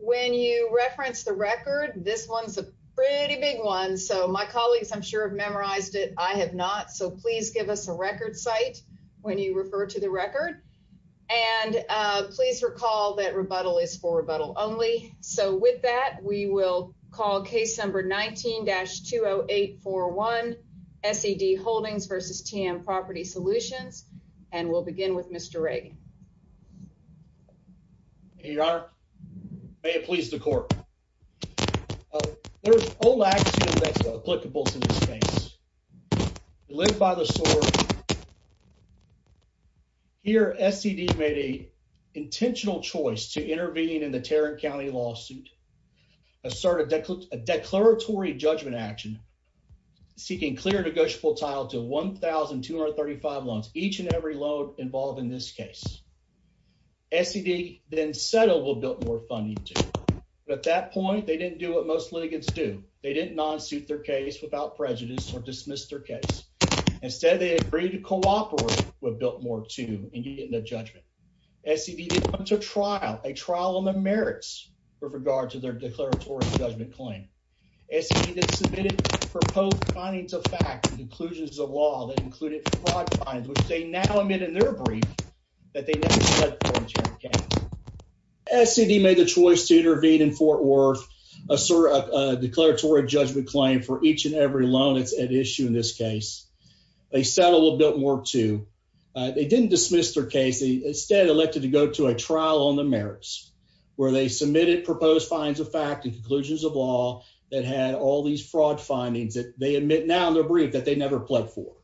When you reference the record this one's a pretty big one so my colleagues I'm sure have memorized it I have not so please give us a record site when you refer to the record and please recall that rebuttal is for rebuttal only so with that we will call case number 19-20841 SED Holdings v. TM Property Solutions and we'll begin with Mr. Reagan. Your Honor, may it please the court. There's old action that's applicable to this case. We live by the sword. Here SED made a intentional choice to intervene in the Tarrant County lawsuit, assert a declaratory judgment action seeking clear negotiable title to 1,235 loans each and every loan involved in this case. SED then settled with Biltmore Funding II. At that point they didn't do what most litigants do. They didn't non-suit their case without prejudice or dismiss their case. Instead they agreed to cooperate with Biltmore II in getting a judgment. SED then went to trial, a trial on the merits, where they submitted proposed fines of fact and conclusions of law that included fraud fines, which they now admit in their brief that they never said for the Tarrant County. SED made the choice to intervene in Fort Worth, assert a declaratory judgment claim for each and every loan that's at issue in this case. They settled with Biltmore II. They didn't dismiss their case. They instead elected to go to a trial on the merits where they had all these fraud findings that they admit now in their brief that they never pled for.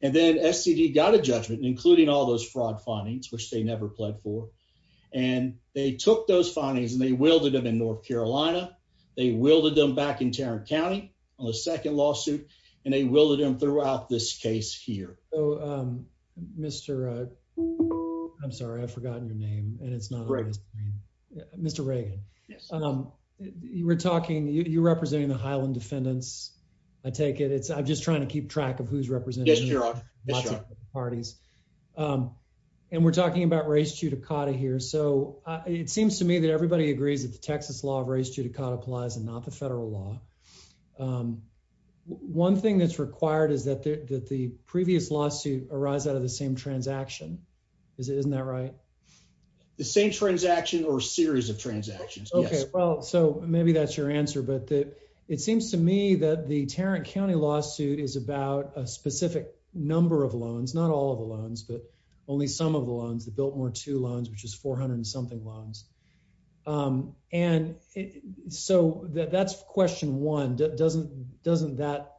And then SED got a judgment, including all those fraud findings, which they never pled for. And they took those findings and they wielded them in North Carolina. They wielded them back in Tarrant County on the second lawsuit and they wielded them throughout this case here. So, um, Mr. I'm sorry, I've forgotten your name and it's not right. Mr. Reagan. Um, you were talking you representing the Highland defendants. I take it. It's I'm just trying to keep track of who's representing your parties. Um, and we're talking about race judicata here. So it seems to me that everybody agrees that the Texas law of race judicata applies and not the lawsuit arise out of the same transaction. Isn't that right? The same transaction or series of transactions? Okay, well, so maybe that's your answer. But it seems to me that the Tarrant County lawsuit is about a specific number of loans, not all of the loans, but only some of the loans that built more to loans, which is 400 something loans. Um, and so that's question one. Doesn't doesn't that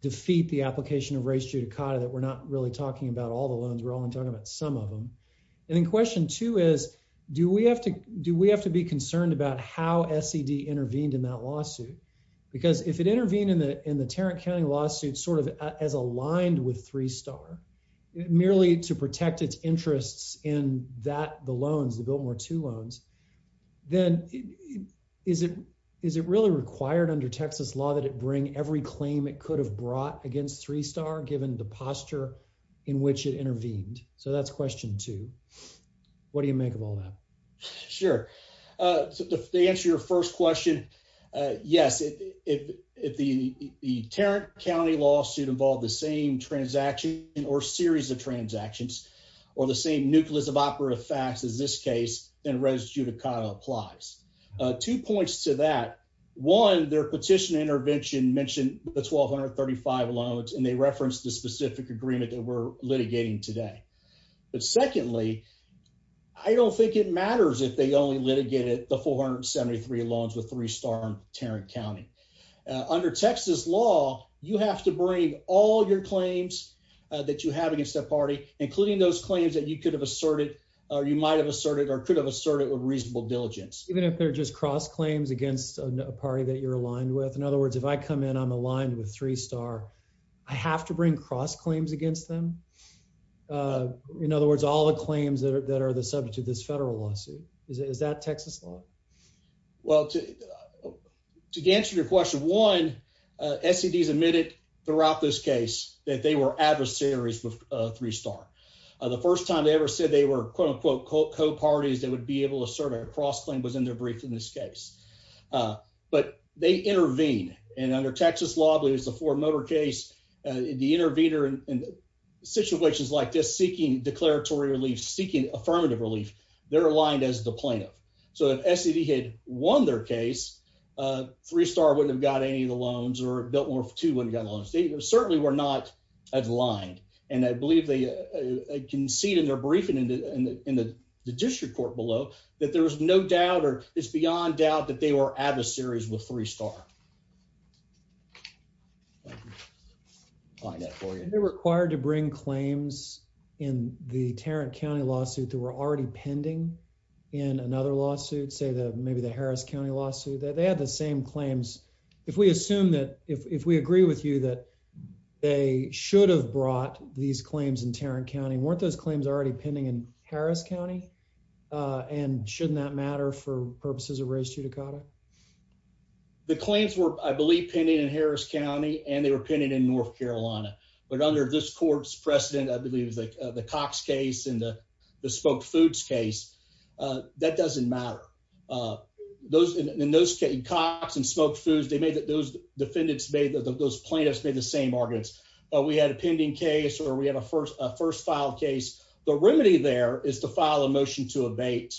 defeat the application of race judicata that we're not really talking about all the loans were only talking about some of them. And in question two is, do we have to? Do we have to be concerned about how S. E. D. Intervened in that lawsuit? Because if it intervened in the in the Tarrant County lawsuit, sort of as aligned with three star merely to protect its interests in that the loans built more to loans, then is it? Is it really required under Texas law that it bring every claim it could have brought against three star given the posture in which it intervened? So that's question two. What do you make of all that? Sure. Uh, they answer your first question. Yes, if the Tarrant County lawsuit involved the same transaction or series of transactions or the same nucleus of operative facts as this case and res judicata applies two points to that one, their petition intervention mentioned the 1235 loans, and they referenced the specific agreement that we're litigating today. But secondly, I don't think it matters if they only litigated the 473 loans with three star Tarrant County. Under Texas law, you have to bring all your claims that you have against the party, including those claims that you could have asserted or you might have asserted or could have asserted with reasonable diligence, even if they're just cross claims against a party that you're aligned with. In other words, if I come in, I'm aligned with three star. I have to bring cross claims against them. Uh, in other words, all the claims that are that are the subject of this federal lawsuit. Is that Texas law? Well, to to answer your question one, S. C. D. S. Admitted throughout this case that they were adversaries with three star the first time they ever said they were quote unquote co parties that would be able to serve a cross claim was in their brief in this case. Uh, but they intervene and under Texas law believes the four motor case the intervener in situations like this, seeking declaratory relief, seeking affirmative relief. They're aligned as the plaintiff. So if S. C. D. Had won their case, uh, three star wouldn't have got any of the loans or built more for two wouldn't get along. They certainly were not aligned, and I believe they concede in their briefing in the district court below that there's no doubt or it's beyond doubt that they were adversaries with three star. Find that for you. They're required to bring claims in the Tarrant County lawsuit that were already pending in another lawsuit, say that maybe the county lawsuit that they had the same claims. If we assume that if we agree with you that they should have brought these claims in Tarrant County, weren't those claims already pending in Harris County? Uh, and shouldn't that matter for purposes of race to Dakota? The claims were, I believe, pending in Harris County, and they were pending in North Carolina. But under this court's precedent, I believe is like the Cox case in the the spoke foods case. Uh, that doesn't matter. Uh, those in those came Cox and smoked foods. They made that those defendants made that those plaintiffs made the same arguments. We had a pending case or we have a first first file case. The remedy there is to file a motion to abate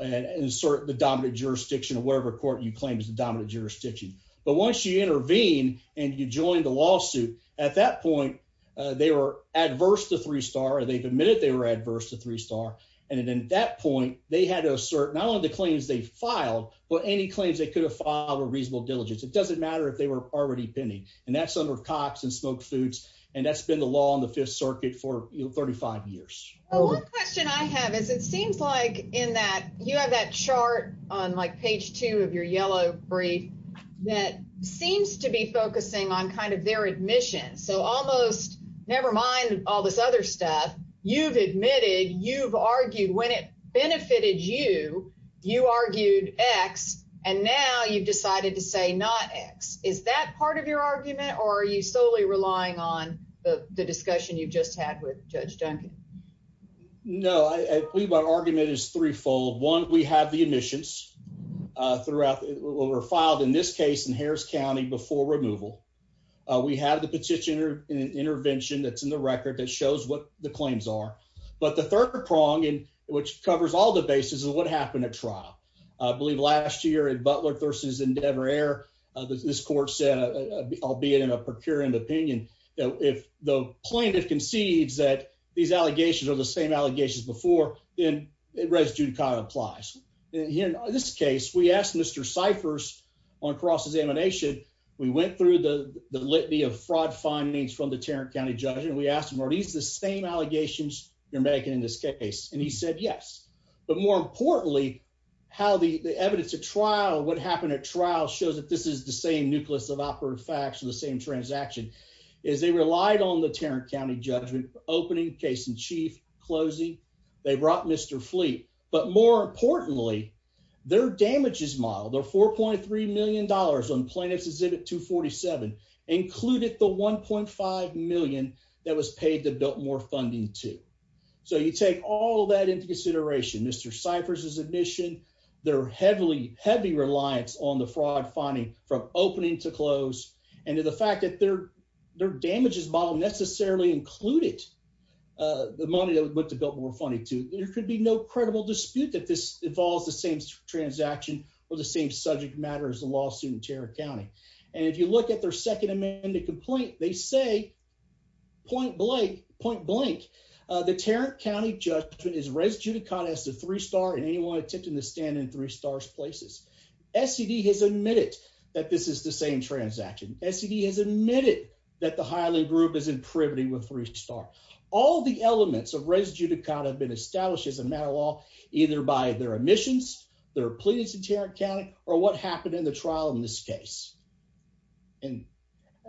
and insert the dominant jurisdiction of whatever court you claim is the dominant jurisdiction. But once you intervene and you joined the lawsuit at that point, they were adverse to three star. They've admitted they were adverse to three star. And then at that point, they had to assert not only the claims they filed, but any claims they could have filed a reasonable diligence. It doesn't matter if they were already pending, and that's under Cox and smoked foods, and that's been the law on the Fifth Circuit for 35 years. One question I have is it seems like in that you have that chart on, like, page two of your yellow brief that seems to be focusing on kind of their admission. So almost never mind all this other stuff you've admitted you've argued when it benefited you, you argued X. And now you've decided to say not X. Is that part of your argument? Or are you solely relying on the discussion you've just had with Judge Duncan? No, I believe my argument is threefold. One. We have the were filed in this case in Harris County before removal. We have the petitioner intervention that's in the record that shows what the claims are. But the third prong in which covers all the basis of what happened at trial, I believe last year in Butler versus Endeavor Air, this court said, albeit in a procurement opinion, if the plaintiff concedes that these allegations are the same allegations before, then residue kind of applies. In this case, we asked Mr Cyphers on cross examination. We went through the litany of fraud findings from the Tarrant County judge, and we asked him Are these the same allegations you're making in this case? And he said yes. But more importantly, how the evidence of trial what happened at trial shows that this is the same nucleus of awkward facts in the same transaction is they relied on the Tarrant County judgment opening case in chief closing. They importantly, their damages model, their $4.3 million on plaintiffs exhibit 2 47 included the 1.5 million that was paid to built more funding to. So you take all that into consideration. Mr Cyphers is admission. They're heavily heavy reliance on the fraud finding from opening to close and to the fact that their their damages model necessarily included the money that to build more funny to. There could be no credible dispute that this involves the same transaction or the same subject matters. The lawsuit in Tarrant County. And if you look at their second amendment complaint, they say point blank point blank. The Tarrant County judgment is residue to contest the three star and anyone attempting to stand in three stars places. S. C. D. Has admitted that this is the same transaction. S. C. D. Has admitted that the highly group is in privity with three star. All the elements of residue to count have been established as a matter of law, either by their admissions, their pleadings in Tarrant County or what happened in the trial in this case. And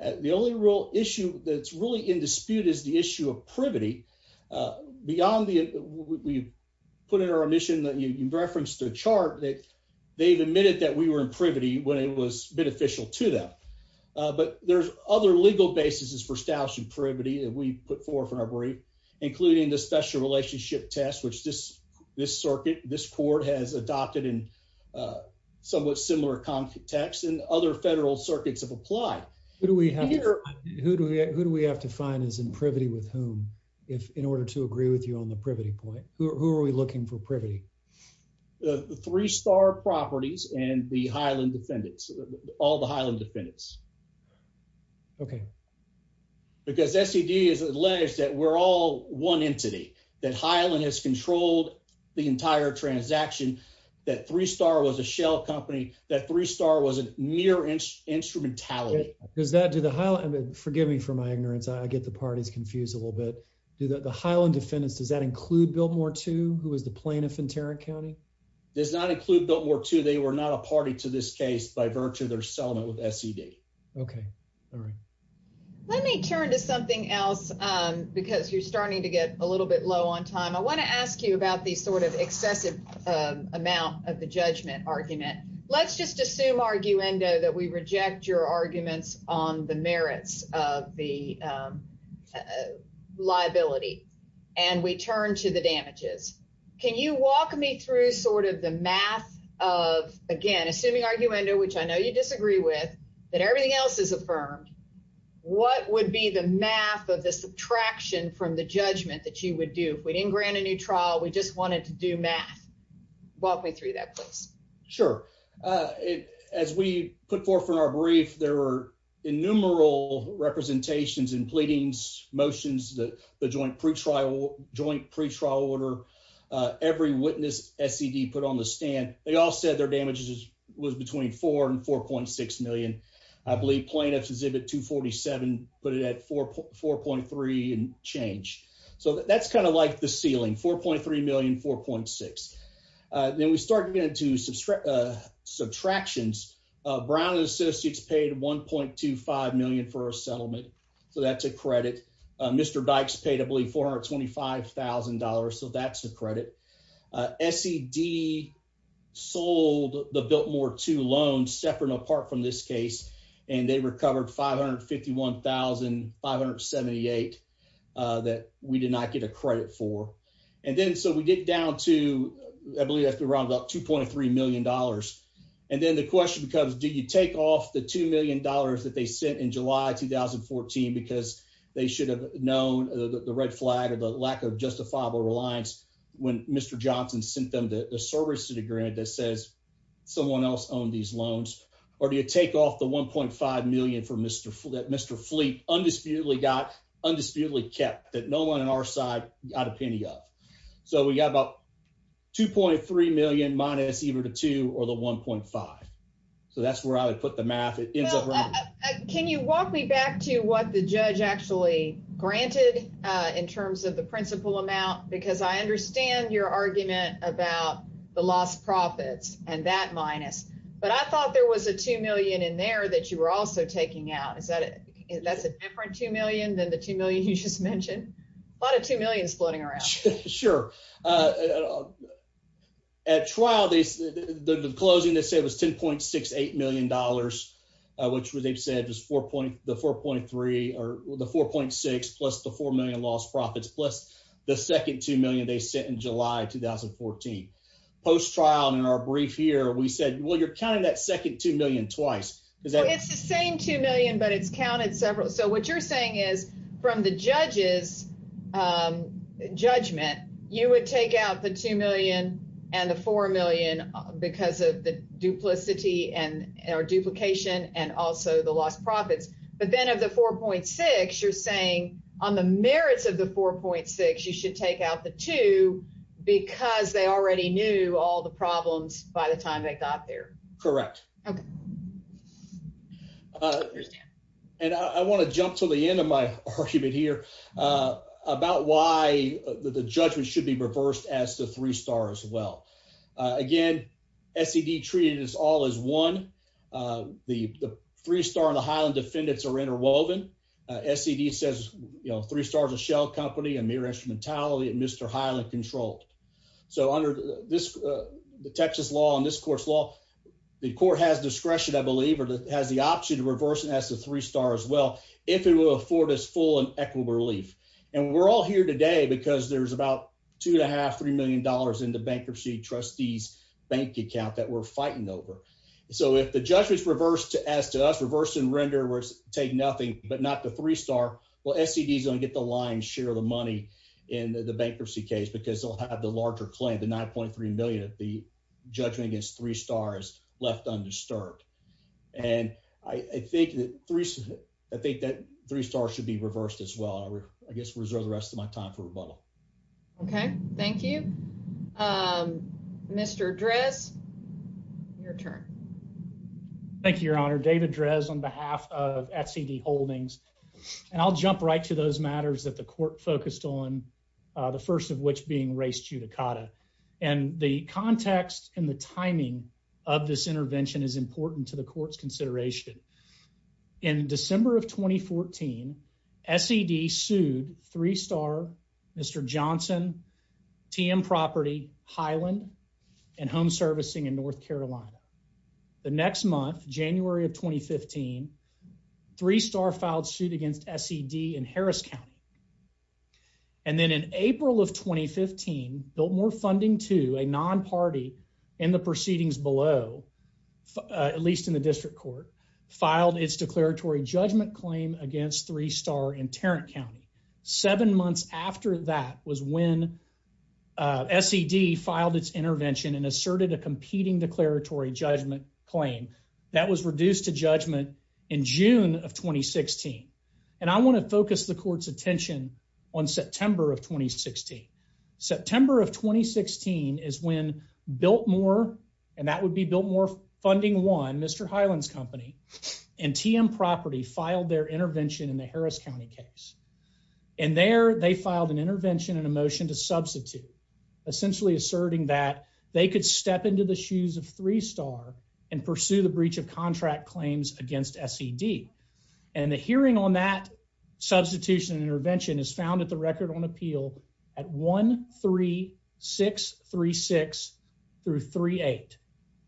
the only real issue that's really in dispute is the issue of privity. Uh, beyond the we put in our mission that you referenced the chart that they've admitted that we were in privity when it was beneficial to them. But there's other legal basis is for establishing privity that we put forward from our brief, including the special relationship test, which this this circuit this court has adopted in, uh, somewhat similar context and other federal circuits have applied. Who do we have? Who do we Who do we have to find is in privity with whom? If in order to agree with you on the privity point, who are we looking for? Privity? The three star properties and the Highland defendants. All the Highland defendants. Okay, because S. E. D. Is alleged that we're all one entity that Highland has controlled the entire transaction. That three star was a shell company. That three star was a near inch instrumentality. Does that do the highlight? Forgive me for my ignorance. I get the parties confused a little bit. Do that. The Highland defendants. Does that include Bill Moore to who is the plaintiff in Tarrant County? Does not include the work to. They were not a party to this case by virtue of their settlement with S. E. D. Okay, all right. Let me turn to something else because you're starting to get a little bit low on time. I want to ask you about the sort of excessive amount of the judgment argument. Let's just assume argue endo that we reject your arguments on the merits of the, uh, liability, and we turn to the damages. Can you walk me through sort of the math of again, assuming argue endo, which I know you disagree with, that everything else is affirmed. What would be the math of the subtraction from the judgment that you would do if we didn't grant a new trial? We just wanted to do math. Walk me through that place. Sure. Uh, as we put forth in our brief, there were innumerable representations in pretrial order. Every witness S. E. D. Put on the stand. They all said their damages was between four and 4.6 million. I believe plaintiffs exhibit 2 47 put it at 44.3 and change. So that's kind of like the ceiling. 4.3 million 4.6. Then we started into subtractions. Brown and Associates paid 1.25 million for our settlement. So that's a credit. Mr Dykes paid, I believe, $25,000. So that's the credit. S. E. D. Sold the Biltmore two loans separate apart from this case, and they recovered 551,578 that we did not get a credit for. And then so we get down to, I believe that's around about $2.3 million. And then the question becomes, Do you take off the $2 million that they sent in July 2014 because they should have known the red flag of the lack of justifiable reliance when Mr Johnson sent them the service to the grid that says someone else owned these loans? Or do you take off the 1.5 million for Mr Mr Fleet? Undisputedly got undisputedly kept that no one on our side got a penny off. So we got about 2.3 million minus either two or the 1.5. So that's where I would put the math. It ends up. Can you walk me to what the judge actually granted in terms of the principal amount? Because I understand your argument about the lost profits and that minus. But I thought there was a two million in there that you were also taking out. Is that? That's a different two million than the two million you just mentioned. A lot of two million splitting around. Sure. Uh, at trial, the closing they was $10.68 million, which they've said was four point the 4.3 or the 4.6 plus the four million lost profits plus the second two million they sent in July 2014. Post trial. In our brief here, we said, Well, you're counting that second two million twice. It's the same two million, but it's counted several. So what you're saying is from the judges, um, judgment, you would take out the two million and the four million because of the duplicity and our duplication and also the lost profits. But then of the 4.6, you're saying on the merits of the 4.6, you should take out the two because they already knew all the problems by the time they got there. Correct. Okay. Uh, and I want to jump to the end of my argument here, uh, about why the judgment should be reversed as the three stars. Well, again, S. E. D. Treated us all is one. Uh, the three star in the Highland defendants are interwoven. S. E. D. Says, you know, three stars a shell company and mere instrumentality and Mr Highland controlled. So under this, uh, the Texas law on this course law, the court has discretion, I believe, or has the option to reversing as the three stars. Well, if it will afford us full and relief, and we're all here today because there's about 2.5 $3 million in the bankruptcy trustee's bank account that we're fighting over. So if the judge was reversed as to us, reverse and render was take nothing but not the three star. Well, S. E. D. Is gonna get the line share the money in the bankruptcy case because they'll have the larger claim. The 9.3 million of the judgment against three stars left undisturbed. And I think that I think that three stars should be reversed as well. I guess we reserve the rest of my time for rebuttal. Okay, thank you. Um, Mr Dress, your turn. Thank you, Your Honor. David Dress on behalf of S. E. D. Holdings. And I'll jump right to those matters that the court focused on, the first of which being race judicata and the context and the timing of this intervention is in December of 2014. S. E. D. Sued three star Mr Johnson, TM Property, Highland and Home Servicing in North Carolina. The next month, January of 2015, three star filed suit against S. E. D. In Harris County, and then in April of 2015 built more funding to a non party in the judgment claim against three star in Tarrant County. Seven months after that was when S. E. D. Filed its intervention and asserted a competing declaratory judgment claim that was reduced to judgment in June of 2016. And I want to focus the court's attention on September of 2016. September of 2016 is when built more, and that would be built more funding. One Mr Highlands Company and TM Property filed their intervention in the Harris County case, and there they filed an intervention in a motion to substitute, essentially asserting that they could step into the shoes of three star and pursue the breach of contract claims against S. E. D. And the hearing on that substitution intervention is found at the record on appeal at 13636 through 38.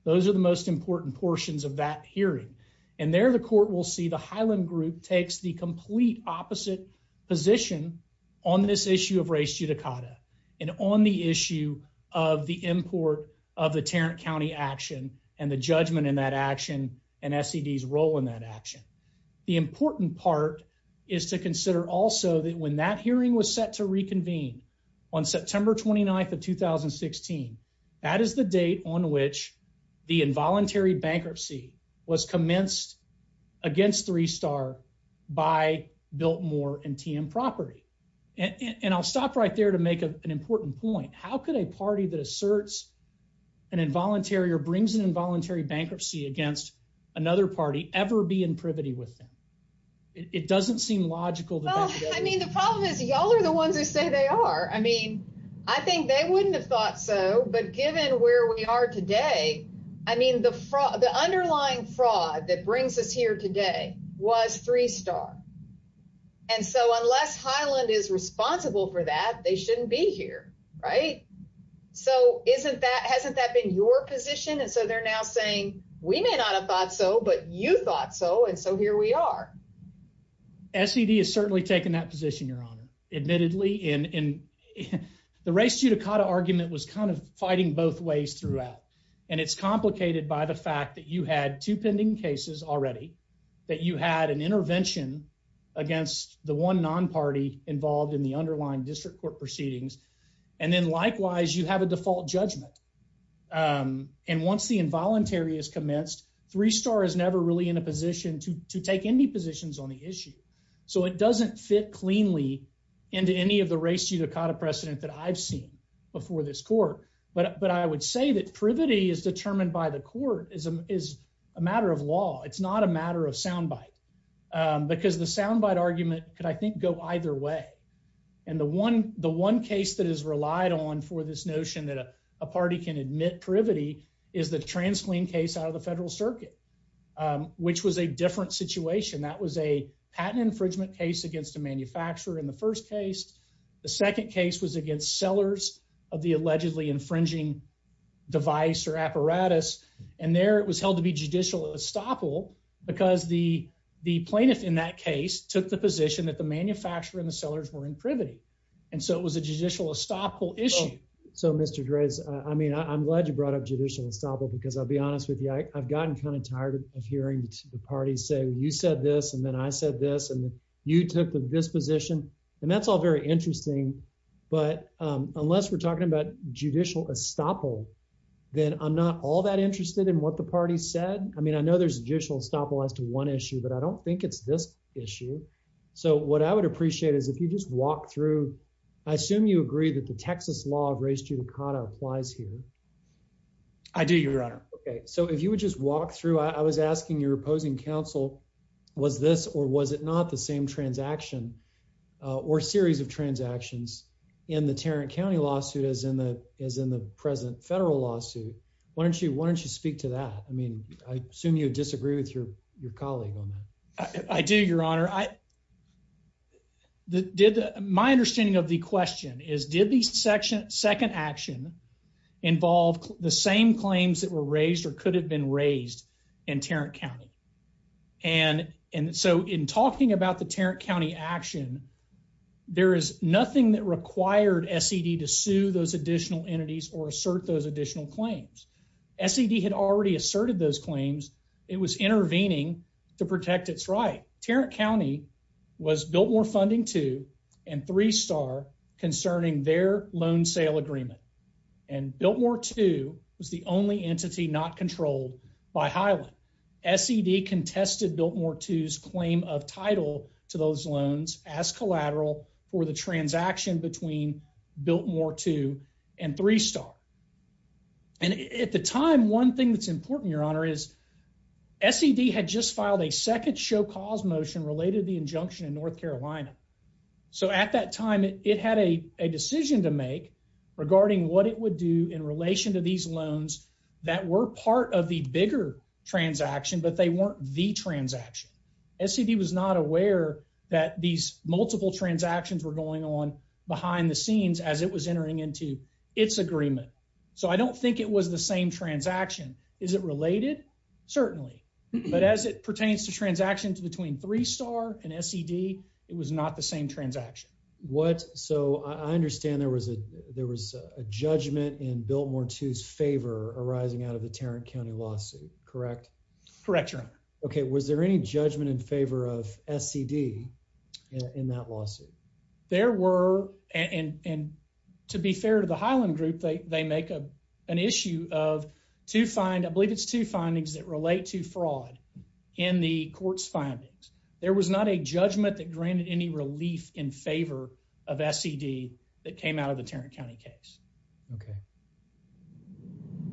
Those are the most important portions of that hearing, and there the court will see the Highland group takes the complete opposite position on this issue of race judicata and on the issue of the import of the Tarrant County action and the judgment in that action and S. E. D. S role in that action. The important part is to consider also that when that hearing was set to reconvene on voluntary bankruptcy was commenced against three star by built more and TM property. And I'll stop right there to make an important point. How could a party that asserts an involuntary or brings an involuntary bankruptcy against another party ever be in privity with them? It doesn't seem logical. I mean, the problem is, y'all are the ones who say they are. I mean, I think they wouldn't have thought so. But given where we are today, I mean, the fraud, the underlying fraud that brings us here today was three star. And so unless Highland is responsible for that, they shouldn't be here, right? So isn't that hasn't that been your position? And so they're now saying we may not have thought so, but you thought so. And so here we are. S. E. D. Has certainly taken that position, Your Honor. Admittedly, in the race judicata argument was kind of fighting both ways throughout, and it's complicated by the fact that you had to pending cases already that you had an intervention against the one non party involved in the underlying district court proceedings. And then, likewise, you have a default judgment. Um, and once the involuntary is commenced, three star is never really in a position to take any positions on the issue. So it doesn't fit cleanly into any of the race judicata precedent that I've seen before this court. But I would say that privity is determined by the court is a matter of law. It's not a matter of sound bite because the sound bite argument could, I think, go either way. And the one the one case that is relied on for this notion that a party can admit privity is the trans clean case out of the federal circuit, which was a different situation. That was a patent infringement case against a factor in the first case. The second case was against sellers of the allegedly infringing device or apparatus, and there it was held to be judicial estoppel because the plaintiff in that case took the position that the manufacturer in the sellers were in privity. And so it was a judicial estoppel issue. So, Mr Grace, I mean, I'm glad you brought up judicial estoppel because I'll be honest with you. I've gotten kind of tired of hearing the party say you said this, and then I said this, and you took this position, and that's all very interesting. But unless we're talking about judicial estoppel, then I'm not all that interested in what the party said. I mean, I know there's judicial estoppel as to one issue, but I don't think it's this issue. So what I would appreciate is if you just walk through, I assume you agree that the Texas law of race to the cotta applies here. I do, Your Honor. Okay, so if you would just walk through, I was asking your opposing counsel was this or was it not the same transaction or series of transactions in the Tarrant County lawsuit is in the is in the present federal lawsuit. Why don't you? Why don't you speak to that? I mean, I assume you disagree with your your colleague on that. I do, Your Honor. I did. My understanding of the question is, did the section second action involved the same claims that were raised or could have been raised in Tarrant County? And and so in talking about the Tarrant County action, there is nothing that required S. E. D. To sue those additional entities or assert those additional claims. S. E. D. Had already asserted those claims. It was intervening to protect its right. Tarrant County was built more funding to and three star concerning their loan sale agreement, and built more to was the only entity not controlled by Highland. S. E. D. Contested built more to his claim of title to those loans as collateral for the transaction between built more to and three star. And at the time, one thing that's important, Your Honor, is S. E. D. Had just filed a second show cause motion related the injunction in North Carolina. So at that time, it had a decision to make regarding what it would do in relation to these loans that were part of the bigger transaction, but they weren't the transaction. S. E. D. Was not aware that these multiple transactions were going on behind the scenes as it was entering into its agreement. So I don't think it was the same transaction. Is it related? Certainly. But as it pertains to transactions between three star and S. E. D. It was not the same transaction. What? So I understand there was a there was a judgment in built more to his favor arising out of the Tarrant County lawsuit, correct? Correct. Okay. Was there any judgment in favor of S. E. D. In that lawsuit? There were and to be fair to the Highland group, they make a an issue of to find. I believe it's two findings that relate to fraud in the court's findings. There was not a judgment that granted any relief in favor of S. E. D. That came out of the Tarrant County case. Okay.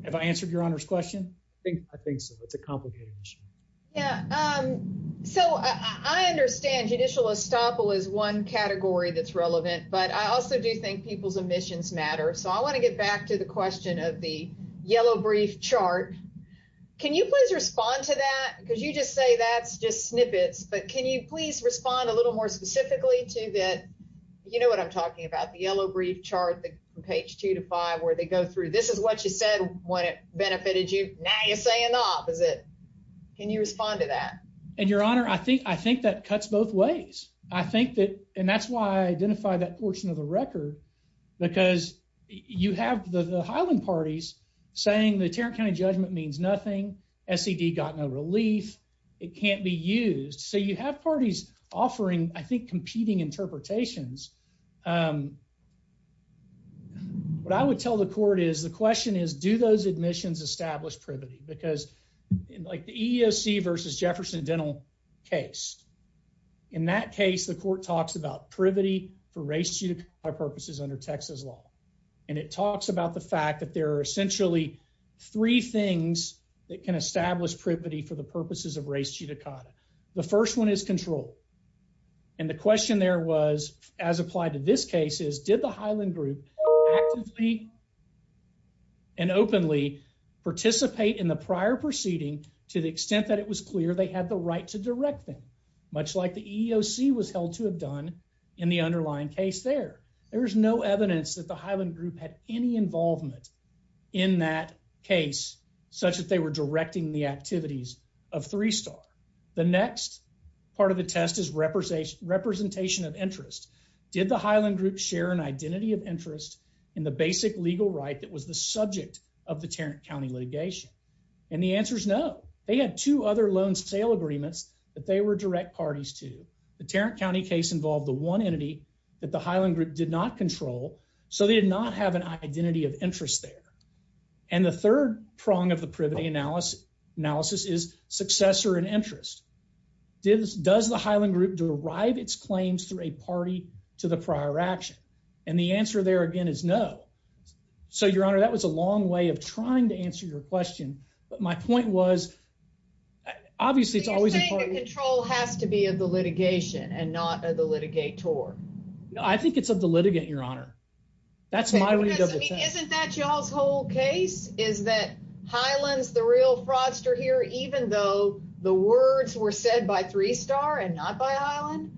Have I answered your honor's question? I think I think so. It's a complicated issue. Yeah. Um, so I understand judicial estoppel is one category that's relevant, but I also do think people's emissions matter. So I want to get back to the question of the yellow brief chart. Can you please respond to that? Because you just say that's just snippets. But can you please respond a quickly to that? You know what I'm talking about? The yellow brief chart, the page 2 to 5 where they go through. This is what you said when it benefited you. Now you're saying the opposite. Can you respond to that? And your honor, I think I think that cuts both ways. I think that and that's why I identify that portion of the record because you have the Highland parties saying the Tarrant County judgment means nothing. S. E. D. Got no relief. It can't be interpretations. Um, what I would tell the court is the question is, do those admissions established privity? Because, like the E. O. C. Versus Jefferson Dental case in that case, the court talks about privity for race, you know, our purposes under Texas law, and it talks about the fact that there are essentially three things that can establish privity for the purposes of race judicata. The first one is control. And the question there was, as applied to this case is, did the Highland Group and openly participate in the prior proceeding to the extent that it was clear they had the right to direct them? Much like the E. O. C. Was held to have done in the underlying case there. There's no evidence that the Highland group had any involvement in that case, such that they were directing the part of the test is representation representation of interest. Did the Highland Group share an identity of interest in the basic legal right that was the subject of the Tarrant County litigation? And the answer is no. They had two other loan sale agreements that they were direct parties to. The Tarrant County case involved the one entity that the Highland Group did not control, so they did not have an identity of interest there. And the third prong of the privity analysis analysis is successor and interest. Did does the Highland Group derive its claims through a party to the prior action? And the answer there again is no. So, Your Honor, that was a long way of trying to answer your question. But my point was, obviously, it's always control has to be of the litigation and not of the litigate tour. I think it's of the litigant, Your Honor. That's my way. Isn't that y'all's whole case? Is that Highlands? The real fraudster here, even though the words were said by three star and not by Island,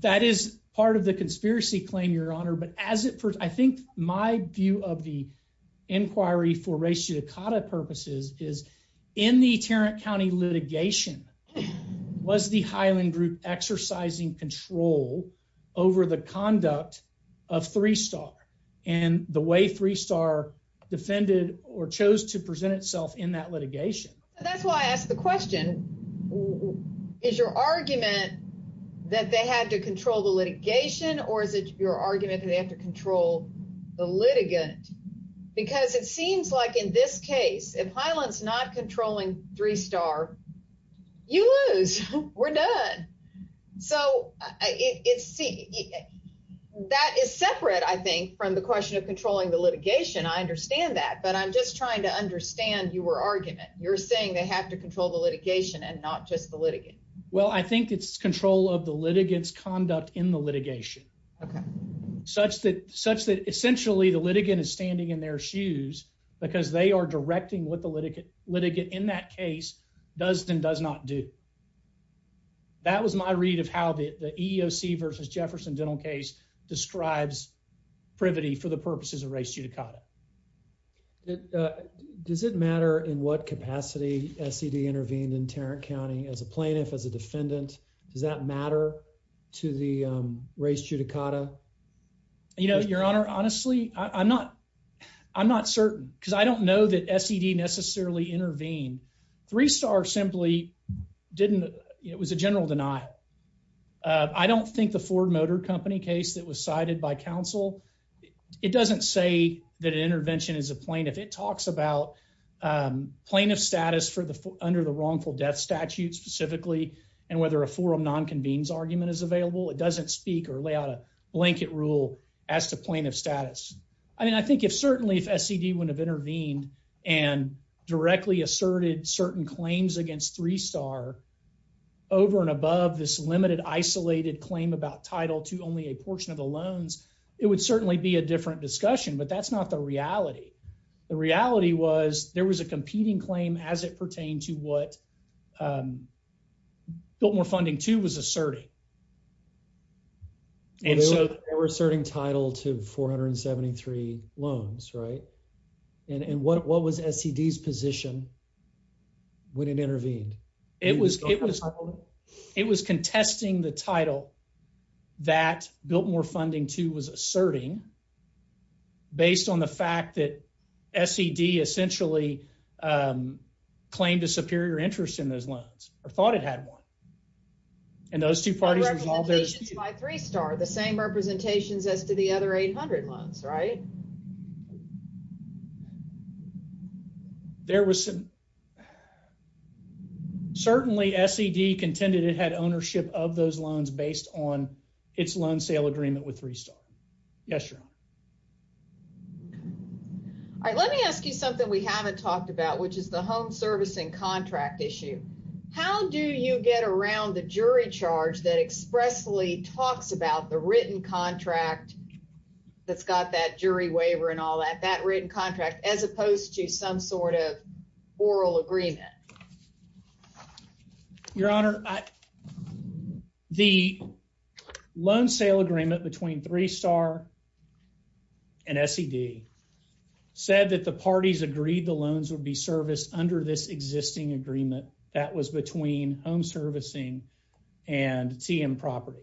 that is part of the conspiracy claim, Your Honor. But as it first, I think my view of the inquiry for ratio Cata purposes is in the Tarrant County litigation was the Highland Group exercising control over the conduct of three star and the way three star defended or chose to present itself in that litigation. That's why I question. Is your argument that they had to control the litigation? Or is it your argument that they have to control the litigant? Because it seems like in this case, if Highland's not controlling three star, you lose. We're done. So it's see, that is separate, I think, from the question of controlling the litigation. I understand that. But I'm just trying to understand you were argument. You're saying they have to control the litigation and not just the litigant. Well, I think it's control of the litigants conduct in the litigation such that such that essentially the litigant is standing in their shoes because they are directing what the litigant litigate in that case does and does not do. That was my read of how the E. O. C. Versus Jefferson Dental case describes privity for the purposes of race judicata. Does it matter in what capacity S. E. D. Intervened in Tarrant County as a plaintiff? As a defendant, does that matter to the race judicata? You know, Your Honor, honestly, I'm not. I'm not certain because I don't know that S. E. D. Necessarily intervene. Three star simply didn't. It was a general denial. I don't think the Ford Motor Company case that was cited by counsel, it doesn't say that intervention is a plane. If it talks about, um, plaintiff status for the under the wrongful death statute specifically and whether a forum non convenes argument is available. It doesn't speak or lay out a blanket rule as to plaintiff status. I mean, I think if certainly if S. E. D. would have intervened and directly asserted certain claims against three star over and above this limited, isolated claim about title to only a portion of the loans, it would certainly be a different discussion. But that's not the reality. The reality was there was a competing claim as it pertained to what, um, built more funding to was asserting and so they were asserting title to 473 loans, right? And what was S. E. D.'s position when it intervened? It was. It was. It was contesting the title that built more funding to was asserting based on the fact that S. E. D. Essentially, um, claimed a superior interest in those loans or thought it had one and those two parties, my three star the same representations as to the other 800 months, right? There was some certainly S. E. D. Contended it had ownership of those loans based on its loan sale agreement with three star. Yes, sir. All right, let me ask you something we haven't talked about, which is the home servicing contract issue. How do you get around the jury charge that expressly talks about the written contract that's got that jury waiver and all that that written contract as opposed to some sort of oral agreement? Your honor, the loan sale agreement between three star and S. E. D. Said that the parties agreed the loans would be serviced under this existing agreement that was between home servicing and TM property.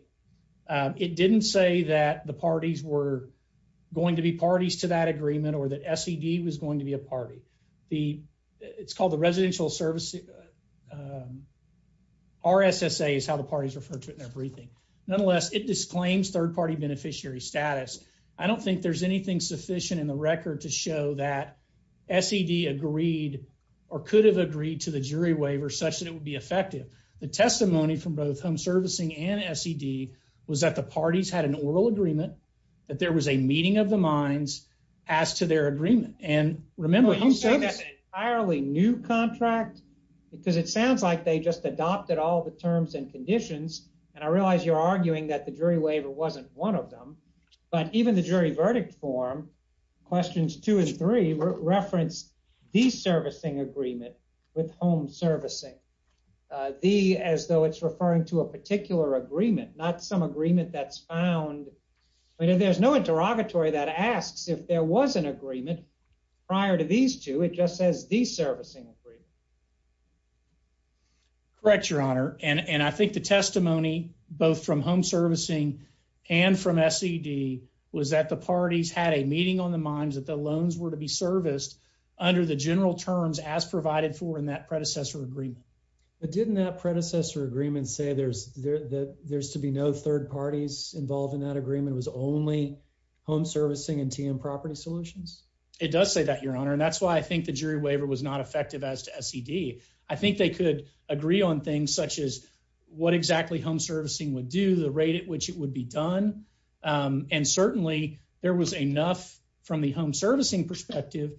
It didn't say that the parties were going to be parties to that agreement or that S. E. D. Was going to be a party. The it's called the residential service. R. S. S. A. Is how the parties referred to it in everything. Nonetheless, it disclaims third party beneficiary status. I don't think there's anything sufficient in the record to show that S. E. D. Agreed or could have agreed to the jury waiver such that it would be effective. The testimony from both home servicing and S. E. D. Was that the parties had an oral agreement that there was a meeting of the minds as to their agreement. And remember, home service, I early new contract because it sounds like they just adopted all the terms and conditions. And I realize you're arguing that the jury waiver wasn't one of them. But even the jury verdict form questions two and three reference the servicing agreement with home servicing the as though it's particular agreement, not some agreement that's found. I mean, there's no interrogatory that asks if there was an agreement prior to these two. It just says the servicing agree. Correct, Your Honor. And I think the testimony both from home servicing and from S. E. D. Was that the parties had a meeting on the minds that the loans were to be serviced under the general terms as provided for in that predecessor agreement. But didn't that predecessor agreement say there's there that there's to be no third parties involved in that agreement was only home servicing and TM property solutions? It does say that, Your Honor. And that's why I think the jury waiver was not effective as to S. E. D. I think they could agree on things such as what exactly home servicing would do the rate at which it would be done. Um, and certainly there was enough from the home servicing perspective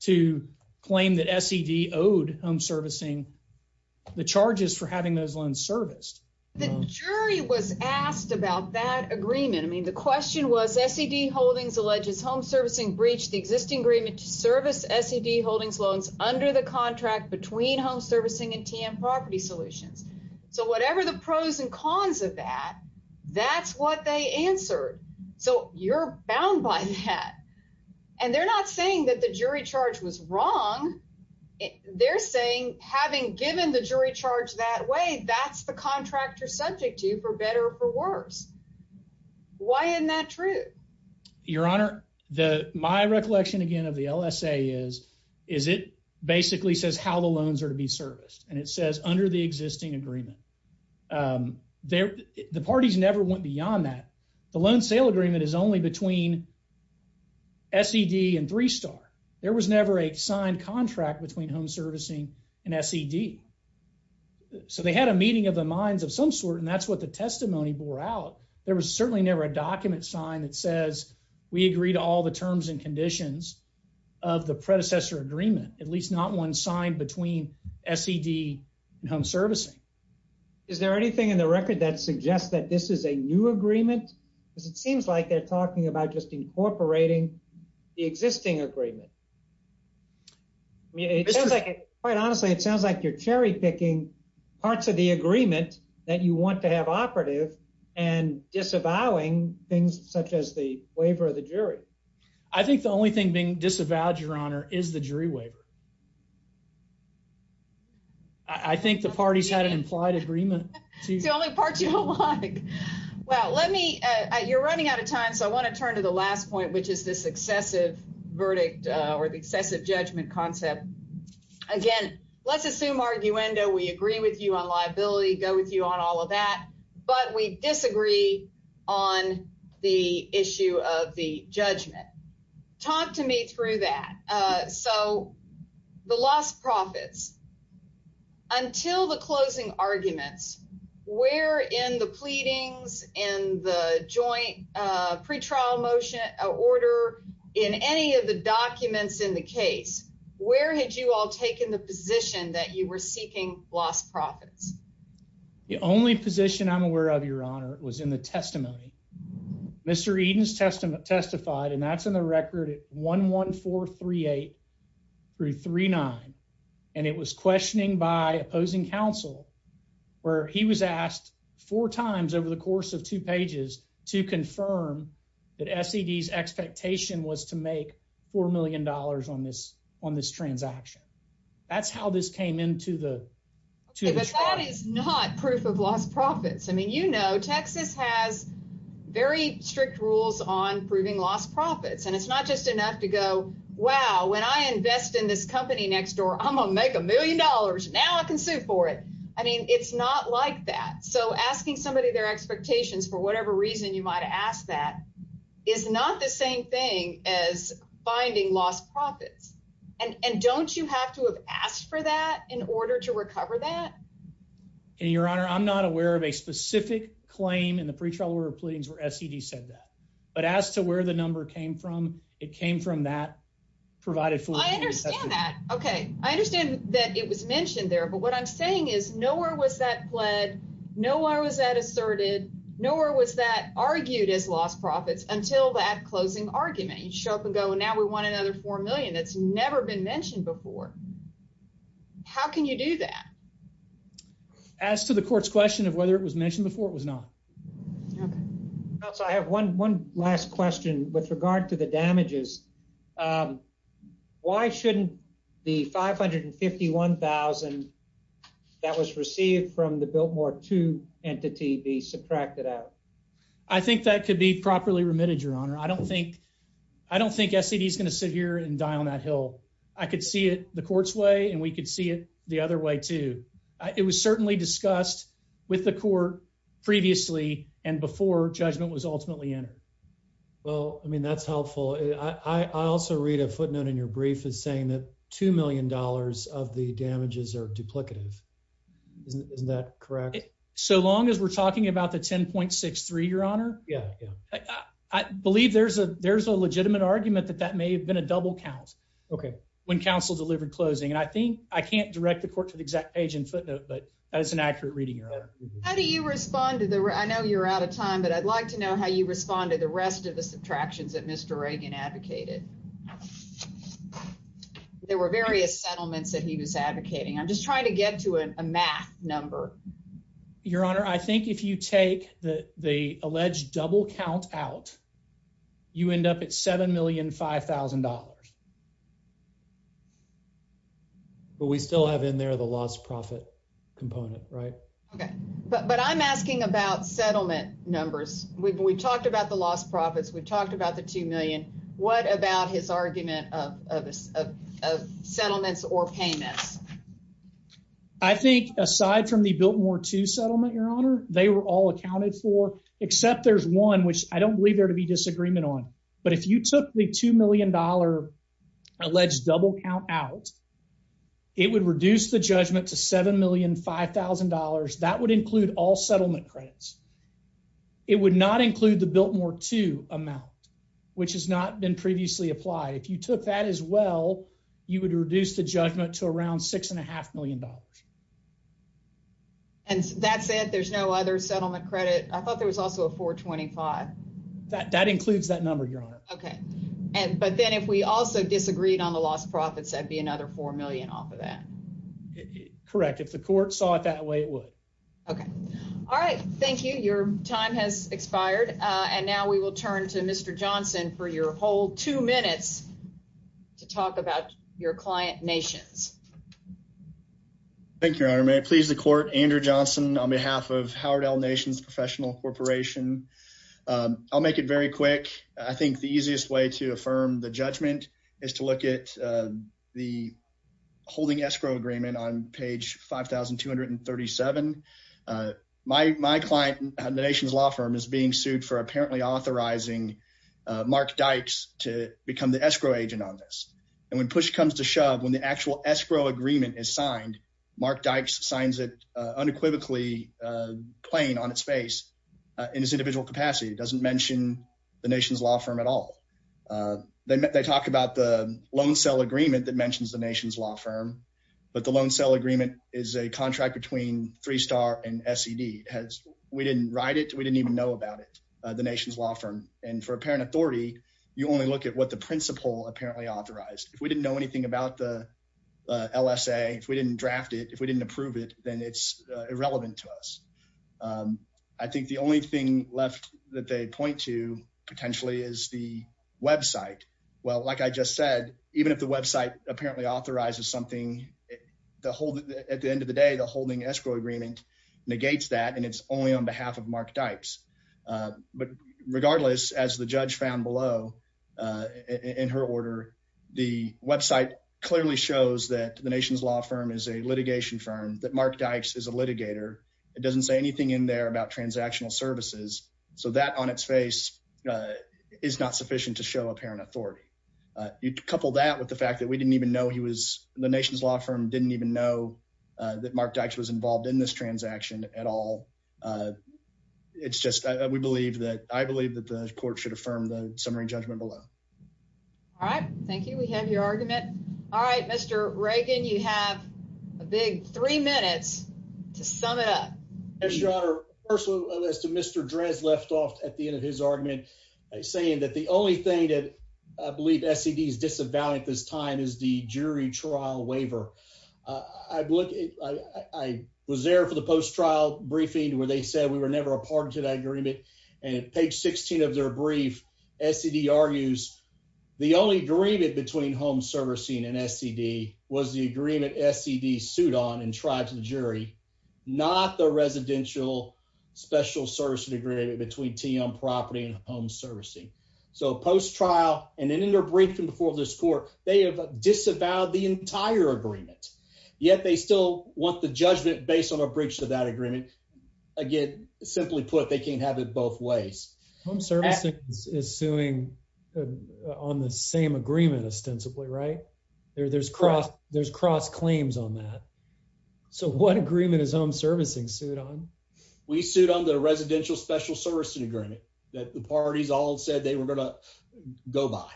to claim that S. E. D. Owed home servicing the jury was asked about that agreement. I mean, the question was S. E. D. Holdings alleges home servicing breached the existing agreement to service S. E. D. Holdings loans under the contract between home servicing and TM property solutions. So whatever the pros and cons of that, that's what they answered. So you're bound by that. And they're not saying that the jury charge was wrong. They're saying, having given the jury charge that way, that's the contractor subject to for better or for worse. Why isn't that true, Your Honor? The my recollection again of the L. S. A. Is is it basically says how the loans are to be serviced, and it says under the existing agreement, um, there the parties never went beyond that. The loan sale agreement is only between S. E. D. And three star. There was never a signed contract between home servicing and S. E. D. So they had a meeting of the minds of some sort, and that's what the testimony bore out. There was certainly never a document sign that says we agree to all the terms and conditions of the predecessor agreement, at least not one signed between S. E. D. Home servicing. Is there anything in the record that suggests that this is a new agreement? Because it seems like they're talking about just incorporating the existing agreement. Yeah, quite honestly, it sounds like you're cherry picking parts of the agreement that you want to have operative and disavowing things such as the waiver of the jury. I think the only thing being disavowed, Your Honor, is the jury waiver. I think the parties had an implied agreement. The only parts you don't like. Well, let me you're running out of time, so I want to turn to the verdict or the excessive judgment concept again. Let's assume argue endo. We agree with you on liability. Go with you on all of that. But we disagree on the issue of the judgment. Talk to me through that. Eso the lost profits until the closing arguments were in the pleadings in the joint pretrial motion order in any of the documents in the case. Where had you all taken the position that you were seeking lost profits? The only position I'm aware of, Your Honor, was in the testimony. Mr Eden's testament testified, and that's in the record at 11438 through 39. And it was questioning by opposing counsel where he was asked four times over the course of two pages to confirm that S. E. D. S. Expectation was to make $4 million on this on this transaction. That's how this came into the two. That is not proof of lost profits. I mean, you know, Texas has very strict rules on proving lost profits, and it's not just enough to go. Wow. When I invest in this company next door, I'm gonna make a million dollars. Now I can sue for it. I mean, it's not like that. So asking somebody their expectations for whatever reason you might ask, that is not the same thing as finding lost profits. And don't you have to have asked for that in order to recover that? And, Your Honor, I'm not aware of a specific claim in the pretrial order of pleadings where S. E. D. Said that. But as to where the number came from, it came from that provided for. I understand that. Okay. I understand that it was mentioned there. But what I'm saying is nowhere was that pled. No one was that asserted. Nowhere was that argued as lost profits until that closing argument. You show up and go. And now we want another four million that's never been mentioned before. How can you do that? As to the court's question of whether it was mentioned before it was not. So I have 11 last question with regard to the damages. Um, why shouldn't the 551,000 that was received from the Biltmore to entity be subtracted out? I think that could be properly remitted. Your Honor, I don't think I don't think S. E. D. Is gonna sit here and die on that hill. I could see it the court's way, and we could see it the other way, too. It was certainly discussed with the court previously and before judgment was ultimately entered. Well, I mean, that's helpful. I also read a footnote in your brief is saying that two million dollars of the damages are duplicative. Isn't that correct? So long as we're talking about the 10.63, Your Honor? Yeah, I believe there's a there's a legitimate argument that that may have been a double count. Okay. When counsel delivered closing, and I think I can't direct the court to the exact page in footnote, but that's an accurate reading. How do you respond to the I know you're out of time, but I'd like to know how you respond to the rest of the subtractions that Mr Reagan advocated. There were various settlements that he was advocating. I'm just trying to get to a math number, Your Honor. I think if you take the alleged double count out, you end up at $7,005,000. But we still have in there the lost profit component, right? Okay, but I'm asking about settlement numbers. We talked about the lost profits. We not his argument of settlements or payments. I think aside from the built more to settlement, Your Honor, they were all accounted for, except there's one which I don't believe there to be disagreement on. But if you took the $2 million alleged double count out, it would reduce the judgment to $7,005,000. That would include all settlement credits. It would not include the built more to amount, which has not been previously applied. If you took that as well, you would reduce the judgment to around $6.5 million. And that's it. There's no other settlement credit. I thought there was also a 4 25 that that includes that number, Your Honor. Okay. But then if we also disagreed on the lost profits, that'd be another four million off of that. Correct. If the court saw it that way, it would. Okay. All right. Thank you. Your time has expired, and now we will turn to Mr Johnson for your whole two minutes to talk about your client Nations. Thank you, Your Honor. May it please the court? Andrew Johnson on behalf of Howard L Nations Professional Corporation. I'll make it very quick. I think the easiest way to affirm the judgment is to look at the holding escrow agreement on page 5237. Uh, my my client and the nation's law firm is being sued for apparently authorizing Mark Dykes to become the escrow agent on this. And when push comes to shove, when the actual escrow agreement is signed, Mark Dykes signs it unequivocally playing on its face in his individual capacity doesn't mention the nation's law firm at all. Uh, they met. They talk about the loan sale agreement that mentions the nation's law firm. But the loan sale agreement is a contract between three star and S. D. S. We didn't write it. We didn't even know about it. The nation's law firm and for apparent authority. You only look at what the principal apparently authorized. If we didn't know anything about the L. S. A. If we didn't draft it, if we didn't approve it, then it's irrelevant to us. Um, I think the only thing left that they point to potentially is the website. Well, like I just said, even if the website apparently authorizes something the whole at the end of the day, the holding escrow agreement negates that, and it's only on behalf of Mark Dykes. But regardless, as the judge found below in her order, the website clearly shows that the nation's law firm is a litigation firm that Mark Dykes is a litigator. It doesn't say anything in there about transactional services. So that on its face, uh, is not sufficient to show apparent authority. You couple that with the fact that we didn't even know he was the nation's law firm didn't even know that Mark Dykes was involved in this transaction at all. Uh, it's just we believe that I believe that the court should affirm the summary judgment below. All right. Thank you. We have your argument. All right, Mr Reagan, you have a big three minutes to sum it up. Yes, Your Honor. Personal as to Mr Drez left off at the end of his argument, saying that the only thing I believe S. E. D. S. Disavow at this time is the jury trial waiver. I've looked. I was there for the post trial briefing where they said we were never a part of that agreement, and it paid 16 of their brief. S. E. D. Argues the only agreement between home servicing and S. E. D. Was the agreement. S. E. D. Suit on and tried to the jury, not the residential special service degree between TM property and home servicing. So post trial and in their briefing before this court, they have disavowed the entire agreement. Yet they still want the judgment based on a breach of that agreement. Again, simply put, they can't have it both ways. Home service is suing on the same agreement ostensibly right there. There's cross. There's cross claims on that. So what the residential special service agreement that the parties all said they were gonna go by.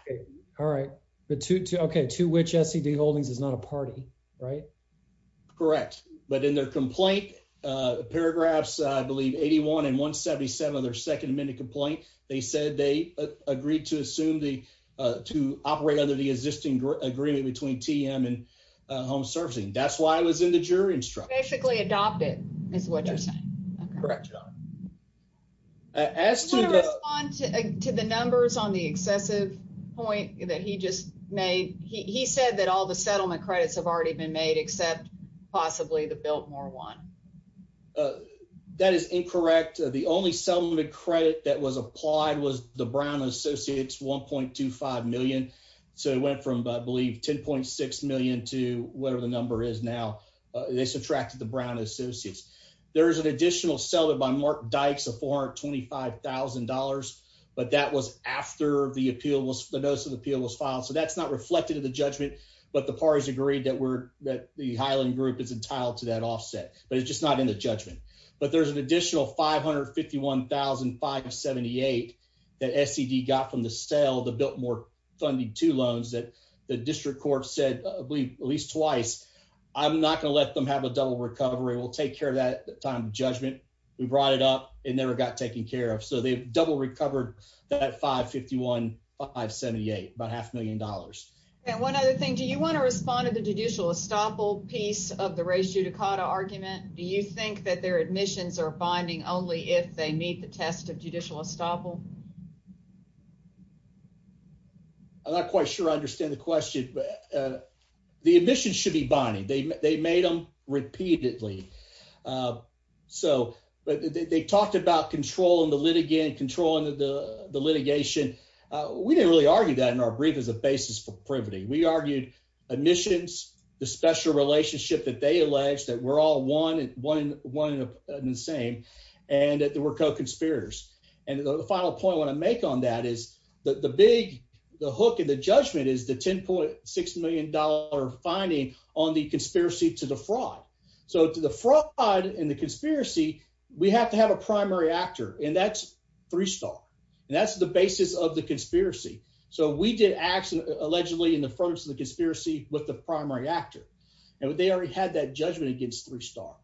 All right, but to okay to which S. E. D. Holdings is not a party, right? Correct. But in their complaint paragraphs, I believe 81 and 1 77 of their second minute complaint, they said they agreed to assume the to operate under the existing agreement between TM and home servicing. That's why I was in the jury instruction. Basically adopted is what correct. As to respond to the numbers on the excessive point that he just made, he said that all the settlement credits have already been made except possibly the Biltmore one. That is incorrect. The only settlement credit that was applied was the Brown Associates 1.25 million. So it went from, I believe, 10.6 million to whatever the number is now. They subtracted the Brown Associates. There is an additional seller by Mark Dykes of $425,000. But that was after the appeal was the notice of appeal was filed. So that's not reflected in the judgment. But the parties agreed that we're that the Highland group is entitled to that offset, but it's just not in the judgment. But there's an additional 551,578 that S. E. D. Got from the cell. The Biltmore funding two loans that the district court said, believe at least twice. I'm not gonna let them have a double recovery. We'll take care of that time. Judgment. We brought it up and never got taken care of. So they double recovered that 551, 578 about half a million dollars. And one other thing. Do you want to respond to the judicial estoppel piece of the ratio Dakota argument? Do you think that their admissions are finding only if they meet the test of judicial estoppel? Yeah, I'm not quite sure. I understand the question. Uh, the admission should be Bonnie. They made them repeatedly. Uh, so they talked about controlling the litigant controlling the litigation. We didn't really argue that in our brief is a basis for privity. We argued admissions, the special relationship that they alleged that we're all 111 and the same and that there were co spiriters. And the final point I want to make on that is that the big hook and the judgment is the 10.6 million dollar finding on the conspiracy to the fraud. So to the fraud and the conspiracy, we have to have a primary actor, and that's three star, and that's the basis of the conspiracy. So we did action allegedly in the first of the conspiracy with the primary actor, and they already had that judgment against three star.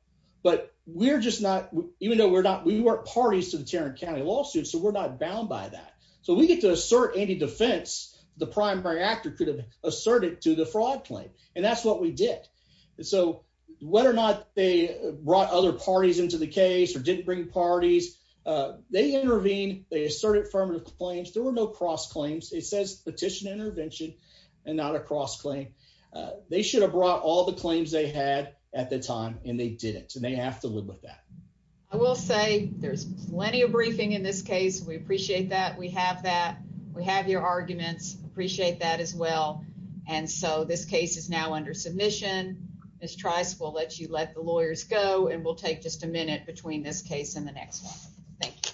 But we're just not even we're not. We weren't parties to the Tarrant County lawsuit, so we're not bound by that. So we get to assert any defense. The primary actor could have asserted to the fraud claim, and that's what we did. So whether or not they brought other parties into the case or didn't bring parties, they intervene. They asserted affirmative claims. There were no cross claims. It says petition intervention and not a cross claim. They should have brought all the claims they had at the time, and they didn't, and they have to live with that. I will say there's plenty of briefing in this case. We appreciate that. We have that. We have your arguments. Appreciate that as well. And so this case is now under submission. Miss Trice will let you let the lawyers go, and we'll take just a minute between this case and the next one. Thank you.